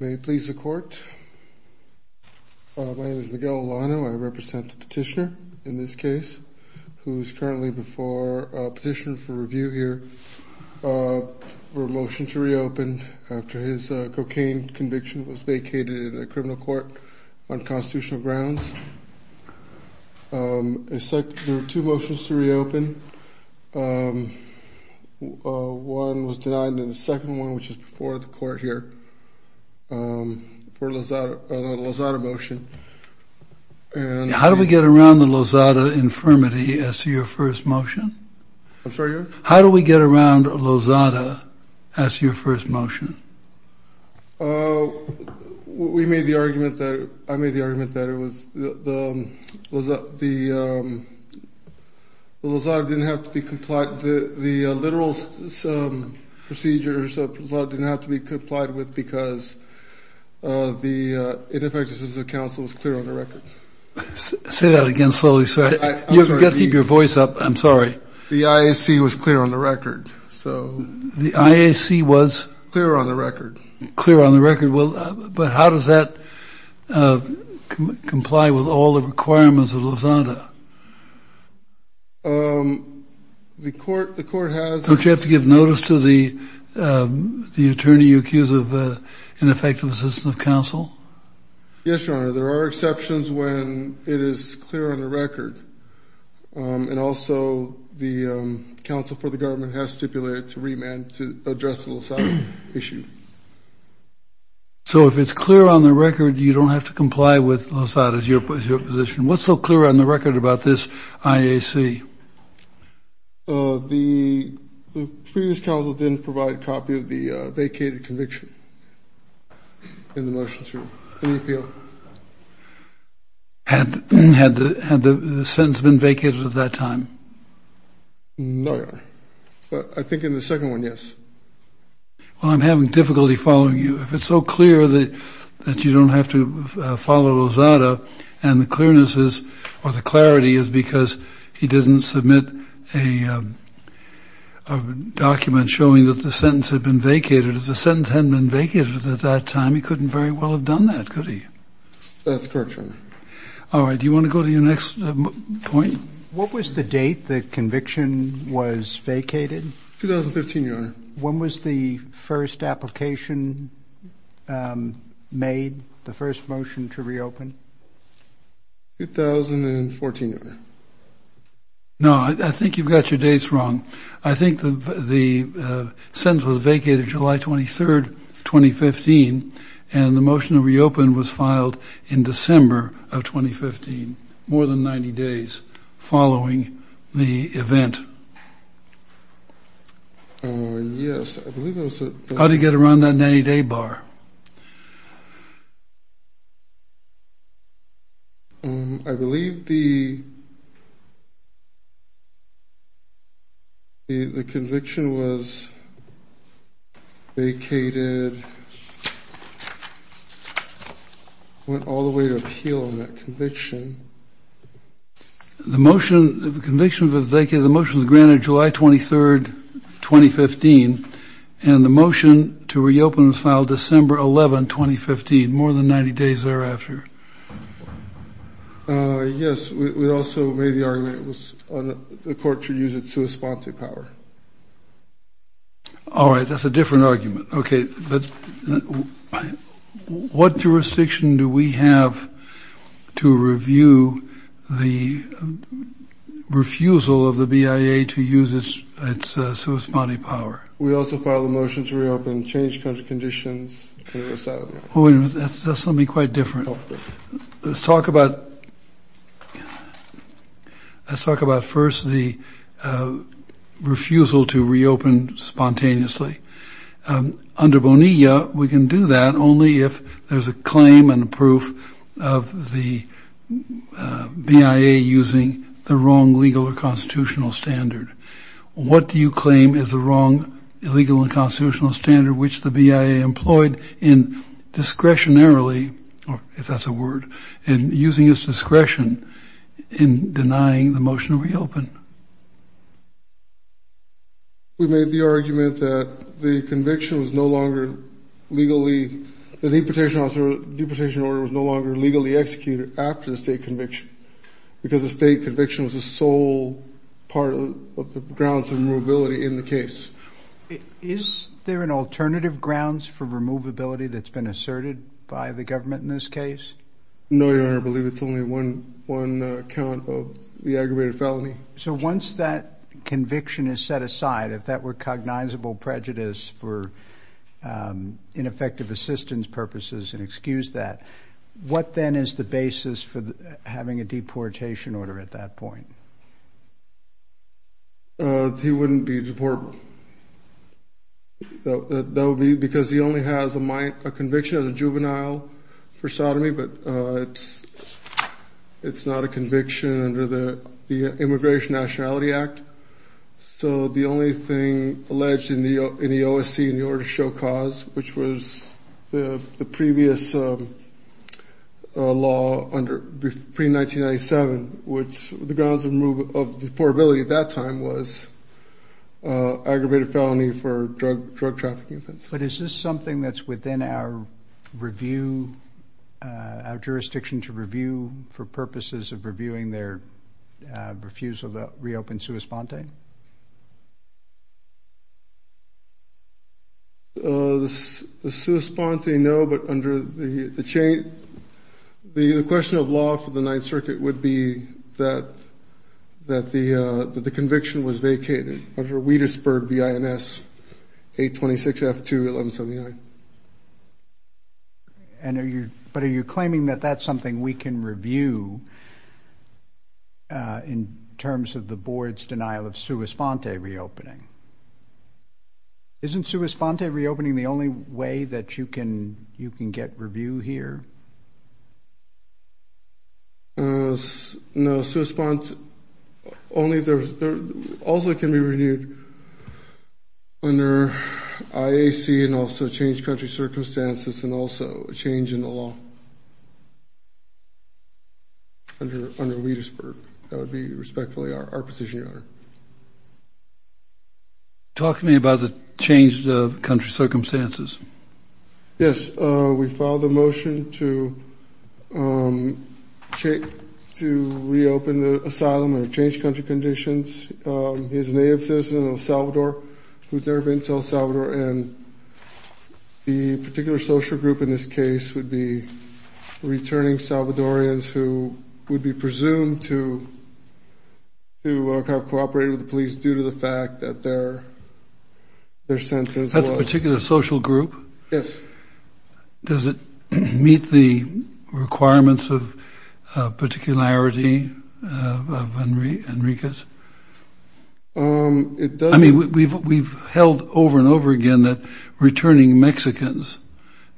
May it please the court. My name is Miguel Olano. I represent the petitioner in this case who is currently before a petitioner for review here for a motion to reopen after his cocaine conviction was vacated in a criminal court on constitutional grounds. There are two motions to reopen. One was denied and the second one which is before the court here for the Lozada motion. How do we get around the Lozada infirmity as to your first motion? I'm sorry. How do we get around Lozada as your first motion? We made the argument that I made the argument that it was the Lozada didn't have to be complied with the literal procedures didn't have to be complied with because the ineffectiveness of the council was clear on the record. Say that the IAC was clear on the record. So the IAC was clear on the record. Clear on the record well but how does that comply with all the requirements of Lozada? The court the court has. Don't you have to give notice to the the attorney you accuse of ineffective assistance of counsel? Yes your honor there are exceptions when it is clear on the record and also the council for the government has stipulated to remand to address the Lozada issue. So if it's clear on the record you don't have to comply with Lozada as your position. What's so clear on the record about this IAC? The previous counsel didn't provide a copy of the vacated conviction in the motion. Had the sentence been vacated at that time? No your honor but I think in the second one yes. Well I'm having difficulty following you if it's so clear that that you don't have to follow Lozada and the submit a document showing that the sentence had been vacated. If the sentence hadn't been vacated at that time he couldn't very well have done that could he? That's correct your honor. Alright do you want to go to your next point? What was the date the conviction was vacated? 2015 your honor. When was the first application made the first motion to reopen? No I think you've got your dates wrong. I think the sentence was vacated July 23rd 2015 and the motion to reopen was filed in December of 2015. More than 90 days following the event. Yes I believe it was. How did you get around that 90 day bar? I believe the conviction was vacated, went all the way to appeal on that conviction. The motion the conviction was vacated, the motion was granted July 23rd 2015 and the motion to reopen was filed December 11, 2015. More than 90 days thereafter. Yes we also made the argument it was on the court to use its sui sponte power. All right that's a different argument okay but what jurisdiction do we have to review the refusal of the BIA to use its sui sponte power? We also filed a motion to reopen change country conditions. That's something quite different. Let's talk about let's talk about first the refusal to reopen spontaneously under Bonilla we can do that only if there's a claim and what do you claim is the wrong legal and constitutional standard which the BIA employed in discretionarily if that's a word and using its discretion in denying the motion to reopen? We made the argument that the conviction was no longer legally the deportation order was no longer legally executed after the state conviction because the state conviction was the sole part of the grounds of the removability in the case. Is there an alternative grounds for removability that's been asserted by the government in this case? No your honor I believe it's only one one count of the aggravated felony. So once that conviction is set aside if that were cognizable prejudice for ineffective assistance purposes and excuse that what then is the basis for having a deportation order at that point? He wouldn't be deported. That would be because he only has a conviction as a juvenile for sodomy but it's not a conviction under the Immigration Nationality Act. So the only thing alleged in the OSC in order to show cause which was the previous law under pre-1997 which the grounds of the removability was that he was a juvenile. The only grounds of the deportability at that time was aggravated felony for drug trafficking. But is this something that's within our review our jurisdiction to review for purposes of reviewing their refusal to reopen sua sponte? The sua sponte no but under the chain the question of law for the Ninth Circuit would be that the conviction was vacated under Wietersburg B.I.N.S. 826 F2 1179. And are you but are you claiming that that's something we can review in terms of the board's denial of sua sponte reopening? Isn't sua sponte reopening the only way that you can you can get review here? No sua sponte only there's also can be reviewed under IAC and also change country circumstances and also a change in the law under Wietersburg. That would be respectfully our position your honor. Talk to me about the change of country circumstances. Yes we filed a motion to reopen the asylum or change country conditions. He's a native citizen of Salvador who's never been to El Salvador and the particular social group in this case would be returning Salvadorians who would be presumed to have cooperated with the police due to the fact that their their census was. Particular social group? Yes. Does it meet the requirements of particularity of Enriquez? I mean we've held over and over again that returning Mexicans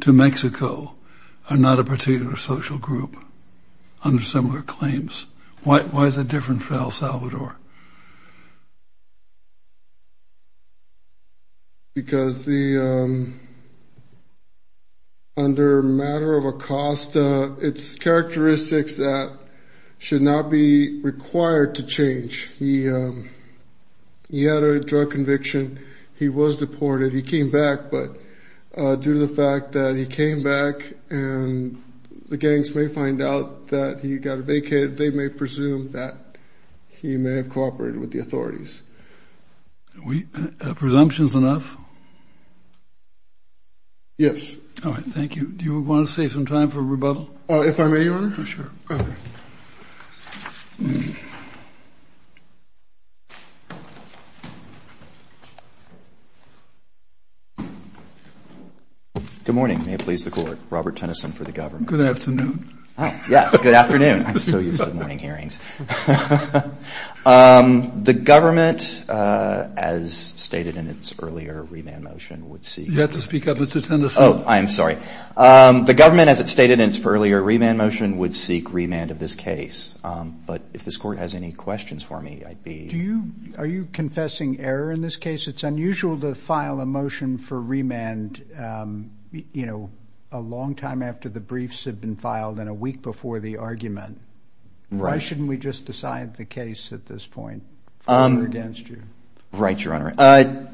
to Mexico are not a particular social group under similar claims. Why is it different for El Salvador? Because the under matter of a cost it's characteristics that should not be required to change. He had a drug conviction. He was deported. He came back but due to the fact that he came back and the gangs may find out that he got a vacated they may presume that he may have been deported. He may have cooperated with the authorities. Presumptions enough? Yes. Thank you. Do you want to save some time for rebuttal? If I may your honor. Sure. Good morning. May it please the court. Robert Tennyson for the government. Good afternoon. Good afternoon. I'm so used to morning hearings. The government as stated in its earlier remand motion would seek. You have to speak up Mr. Tennyson. I'm sorry. The government as it stated in its earlier remand motion would seek remand of this case. But if this court has any questions for me. Are you confessing error in this case? It's unusual to file a motion for remand. You know a long time after the briefs have been filed and a week before the argument. Why shouldn't we file a motion for remand? Why shouldn't we just decide the case at this point? For or against you? Right your honor.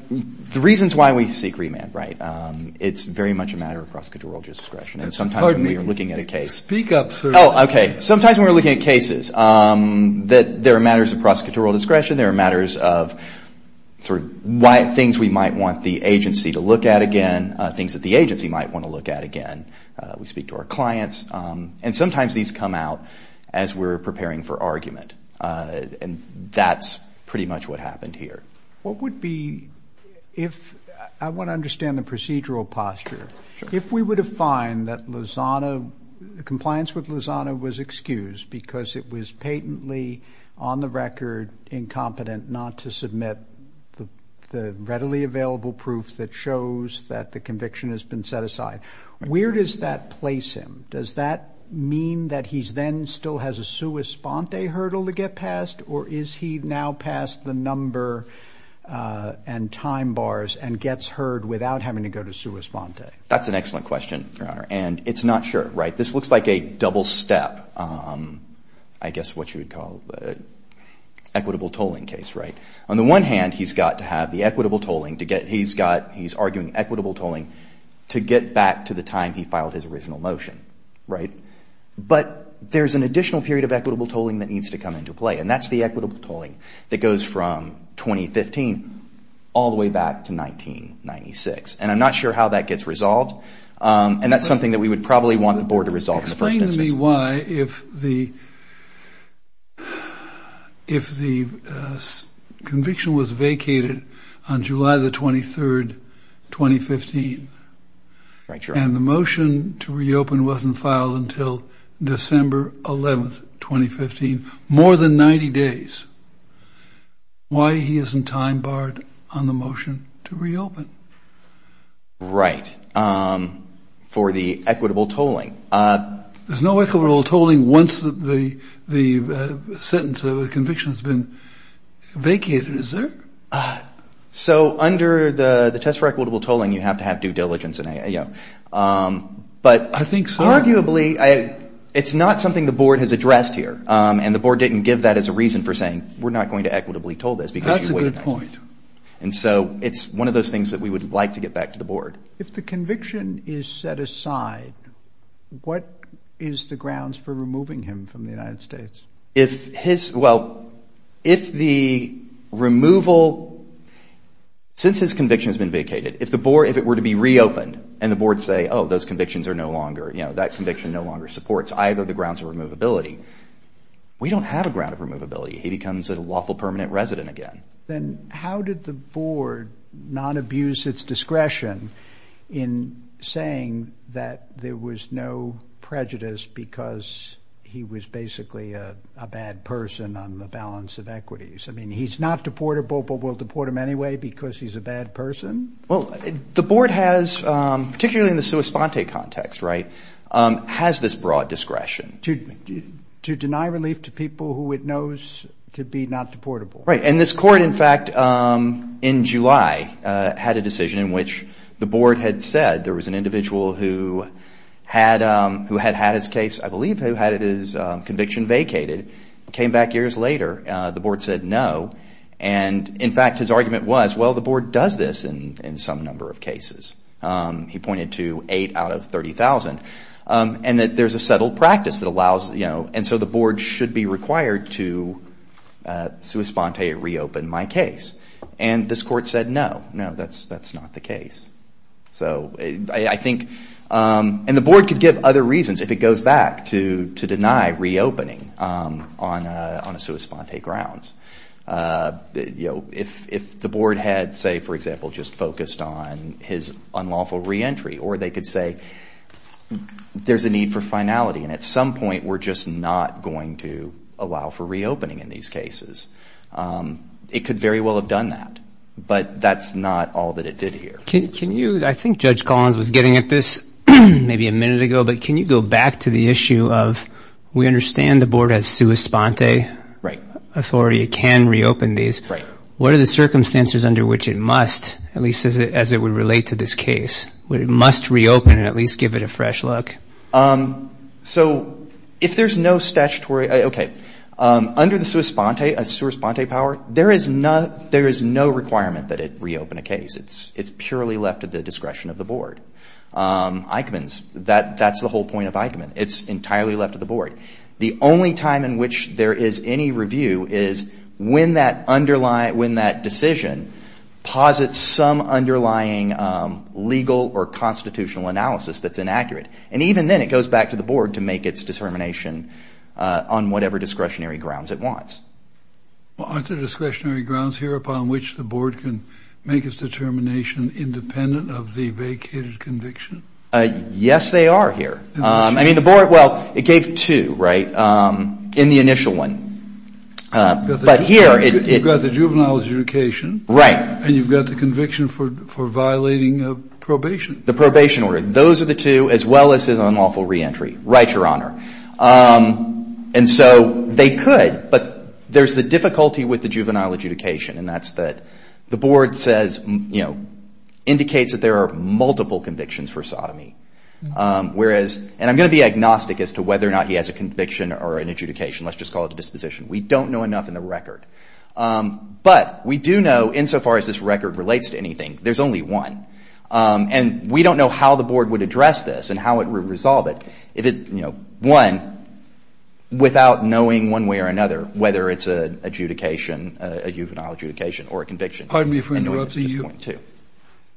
The reasons why we seek remand. It's very much a matter of prosecutorial discretion. And sometimes when we are looking at a case. Speak up sir. Sometimes when we are looking at cases. There are matters of prosecutorial discretion. There are matters of. Things we might want the agency to look at again. Things that the agency might want to look at again. We speak to our clients. And sometimes these come out. As we are preparing for argument. And that's pretty much what happened here. What would be. If. I want to understand the procedural posture. If we would have find that Lozano. Compliance with Lozano was excused. Because it was patently. On the record. Incompetent not to submit. The readily available proof. That shows that the conviction. Has been set aside. Where does that place him? Does that mean. That he then still has a sua sponte hurdle. To get past. Or is he now past the number. And time bars. And gets heard without having to go to sua sponte. That's an excellent question. And it's not sure. This looks like a double step. I guess what you would call. Equitable tolling case. On the one hand. He's got to have the equitable tolling. He's arguing equitable tolling. To get back to the time. He filed his original motion. But there's an additional period. Of equitable tolling that needs to come into play. And that's the equitable tolling. That goes from 2015. All the way back to 1996. And I'm not sure how that gets resolved. And that's something that we would probably. Want the board to resolve. Explain to me why. If the. Conviction was vacated. On July the 23rd. 2015. And the motion to reopen. Wasn't filed until December 11th. 2015. More than 90 days. Why he isn't time barred. On the motion to reopen. Right. For the equitable tolling. There's no equitable tolling. Once the. Sentence of the conviction. Has been vacated. Is there? So. Under the test for equitable tolling. You have to have due diligence. But. Arguably. It's not something the board has addressed here. And the board didn't give that as a reason for saying. We're not going to equitably toll this. That's a good point. And so it's one of those things. That we would like to get back to the board. If the conviction is set aside. What is the grounds for removing him. From the United States. If his. Well. If the removal. Since his conviction has been vacated. If the board. If it were to be reopened. And the board say. Oh those convictions are no longer. You know that conviction no longer supports. Either the grounds of removability. We don't have a ground of removability. He becomes a lawful permanent resident again. Then how did the board. Not abuse its discretion. In saying. That there was no prejudice. Because he was basically. A bad person. On the balance of equities. I mean he's not deportable. But we'll deport him anyway. Because he's a bad person. Well the board has. Particularly in the sua sponte context. Has this broad discretion. To deny relief to people. Who it knows to be not deportable. And this court in fact. In July. Had a decision in which. The board had said. There was an individual. Who had had his case. I believe who had his conviction vacated. Came back years later. The board said no. And in fact his argument was. Well the board does this. In some number of cases. He pointed to 8 out of 30,000. And that there's a settled practice. That allows you know. And so the board should be required. To sua sponte reopen my case. And this court said no. No that's not the case. So I think. And the board could give other reasons. If it goes back. To deny reopening. On a sua sponte grounds. If the board had. Say for example. Just focused on his unlawful re-entry. Or they could say. There's a need for finality. And at some point. We're just not going to allow for reopening. In these cases. It could very well have done that. But that's not all that it did here. Can you. I think Judge Collins was getting at this. Maybe a minute ago. But can you go back to the issue of. We understand the board has sua sponte. Authority can reopen these. What are the circumstances. Under which it must. At least as it would relate to this case. It must reopen. And at least give it a fresh look. So if there's no statutory. Okay. Under the sua sponte. A sua sponte power. There is no requirement that it reopen a case. It's purely left to the discretion of the board. Eichmann's. That's the whole point of Eichmann. It's entirely left to the board. The only time in which there is any review. Is when that decision. Posits some underlying. Legal or constitutional analysis. That's inaccurate. And even then it goes back to the board. To make its determination. On whatever discretionary grounds it wants. Aren't there discretionary grounds here. Upon which the board can. Make its determination independent. Of the vacated conviction. Yes they are here. I mean the board. Well it gave two right. In the initial one. But here. You've got the juvenile adjudication. Right. And you've got the conviction for violating a probation. The probation order. Those are the two. As well as his unlawful re-entry. Right your honor. And so they could. But there's the difficulty with the juvenile adjudication. And that's that the board says. Indicates that there are multiple convictions for sodomy. Whereas. And I'm going to be agnostic as to whether or not. He has a conviction or an adjudication. Let's just call it a disposition. We don't know enough in the record. But we do know in so far as this record relates to anything. There's only one. And we don't know how the board would address this. And how it would resolve it. One. Without knowing one way or another. Whether it's an adjudication. A juvenile adjudication or a conviction. Pardon me for interrupting you.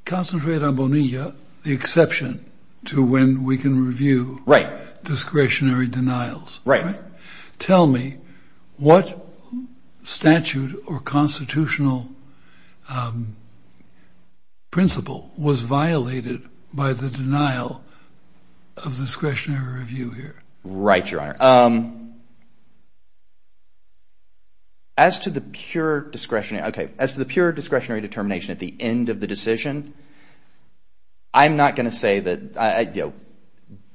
Concentrate on Bonilla. The exception to when we can review. Right. Discretionary denials. Right. Tell me. What statute or constitutional. Principle. Was violated. By the denial. Of discretionary review here. Right your honor. As to the pure discretionary. Okay. As to the pure discretionary determination. At the end of the decision. I'm not going to say that.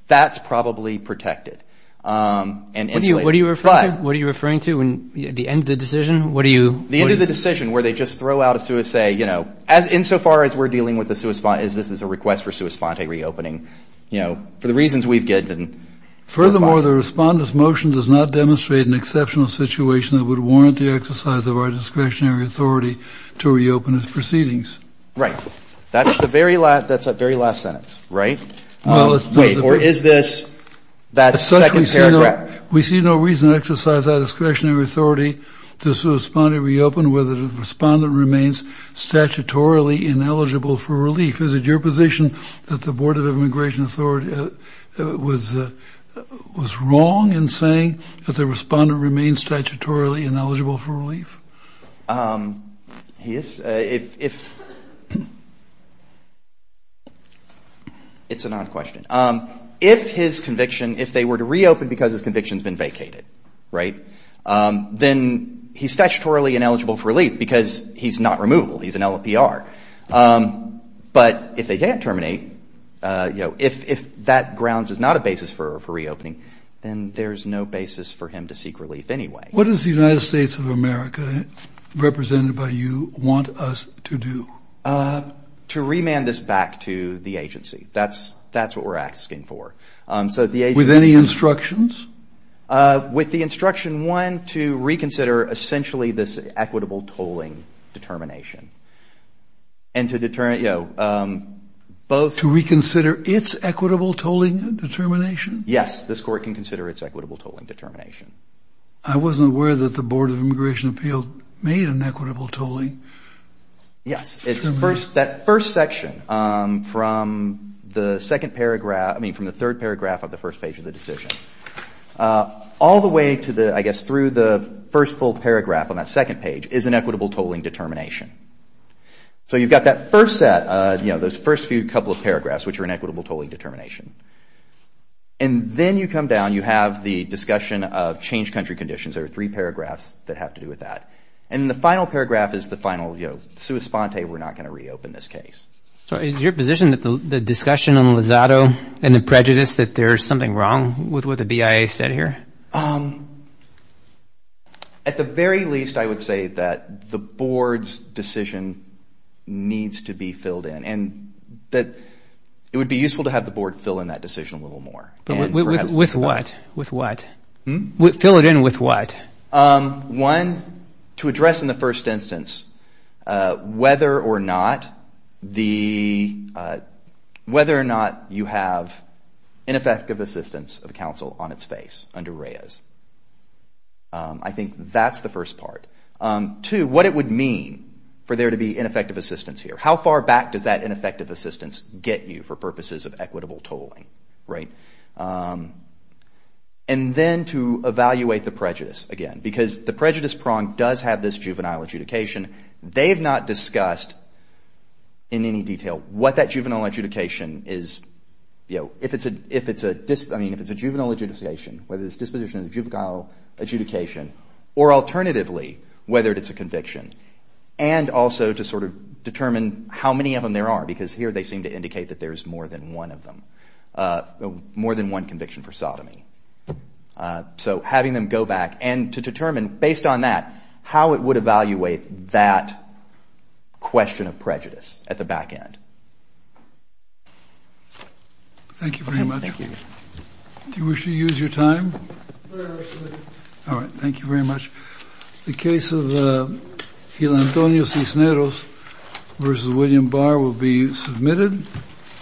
That's probably protected. What are you referring to? The end of the decision? The end of the decision. Where they just throw out a. In so far as we're dealing with. This is a request for. Reopening. For the reasons we've given. Furthermore the respondent's motion. Does not demonstrate an exceptional situation. That would warrant the exercise of our discretionary authority. To reopen his proceedings. Right. That's the very last sentence. Right. Or is this. That second paragraph. We see no reason to exercise our discretionary authority. To respond to reopen. Whether the respondent remains. Statutorily ineligible for relief. Is it your position. That the board of immigration authority. Was wrong. In saying. That the respondent remains. Statutorily ineligible for relief. He is. If. It's an odd question. If his conviction. If they were to reopen. Because his conviction's been vacated. Right. Then he's statutorily ineligible for relief. Because he's not removable. He's an LAPR. But if they can't terminate. If that grounds. Is not a basis for reopening. Then there's no basis for him to seek relief anyway. What does the United States of America. Represented by you. Want us to do. To remand this back to the agency. That's what we're asking for. With any instructions? With the instruction. One to reconsider. Essentially this equitable tolling. Determination. And to determine. To reconsider it's equitable tolling. Determination. Yes. This court can consider it's equitable tolling. Determination. I wasn't aware that the Board of Immigration Appeals. Made an equitable tolling. Yes. That first section. From the second paragraph. I mean from the third paragraph. Of the first page of the decision. All the way to the. I guess through the first full paragraph. On that second page. Is an equitable tolling determination. So you've got that first set. Those first few couple of paragraphs. Which are an equitable tolling determination. And then you come down. You have the discussion of. Change country conditions. There are three paragraphs. That have to do with that. And the final paragraph. Is the final. We're not going to reopen this case. So is your position. That the discussion on Lozado. And the prejudice. That there's something wrong. With what the BIA said here? At the very least. I would say that. The Board's decision. Needs to be filled in. It would be useful. To have the Board fill in that decision a little more. With what? Fill it in with what? One. To address in the first instance. Whether or not. The. Whether or not you have. Ineffective assistance of counsel. On its face. Under Reyes. I think that's the first part. Two. What it would mean. For there to be ineffective assistance here. How far back does that ineffective assistance get you. For purposes of equitable tolling. And then to evaluate the prejudice. Because the prejudice prong. Does have this juvenile adjudication. They have not discussed. In any detail. What that juvenile adjudication is. If it's a. If it's a juvenile adjudication. Whether it's disposition of juvenile adjudication. Or alternatively. Whether it's a conviction. And also to sort of determine. How many of them there are. Because here they seem to indicate. That there's more than one of them. More than one conviction for sodomy. So having them go back. And to determine based on that. How it would evaluate that. Question of prejudice. At the back end. Thank you very much. Do you wish to use your time? All right. Thank you very much. The case of. Antonio Cisneros. Versus William Barr. Will be submitted.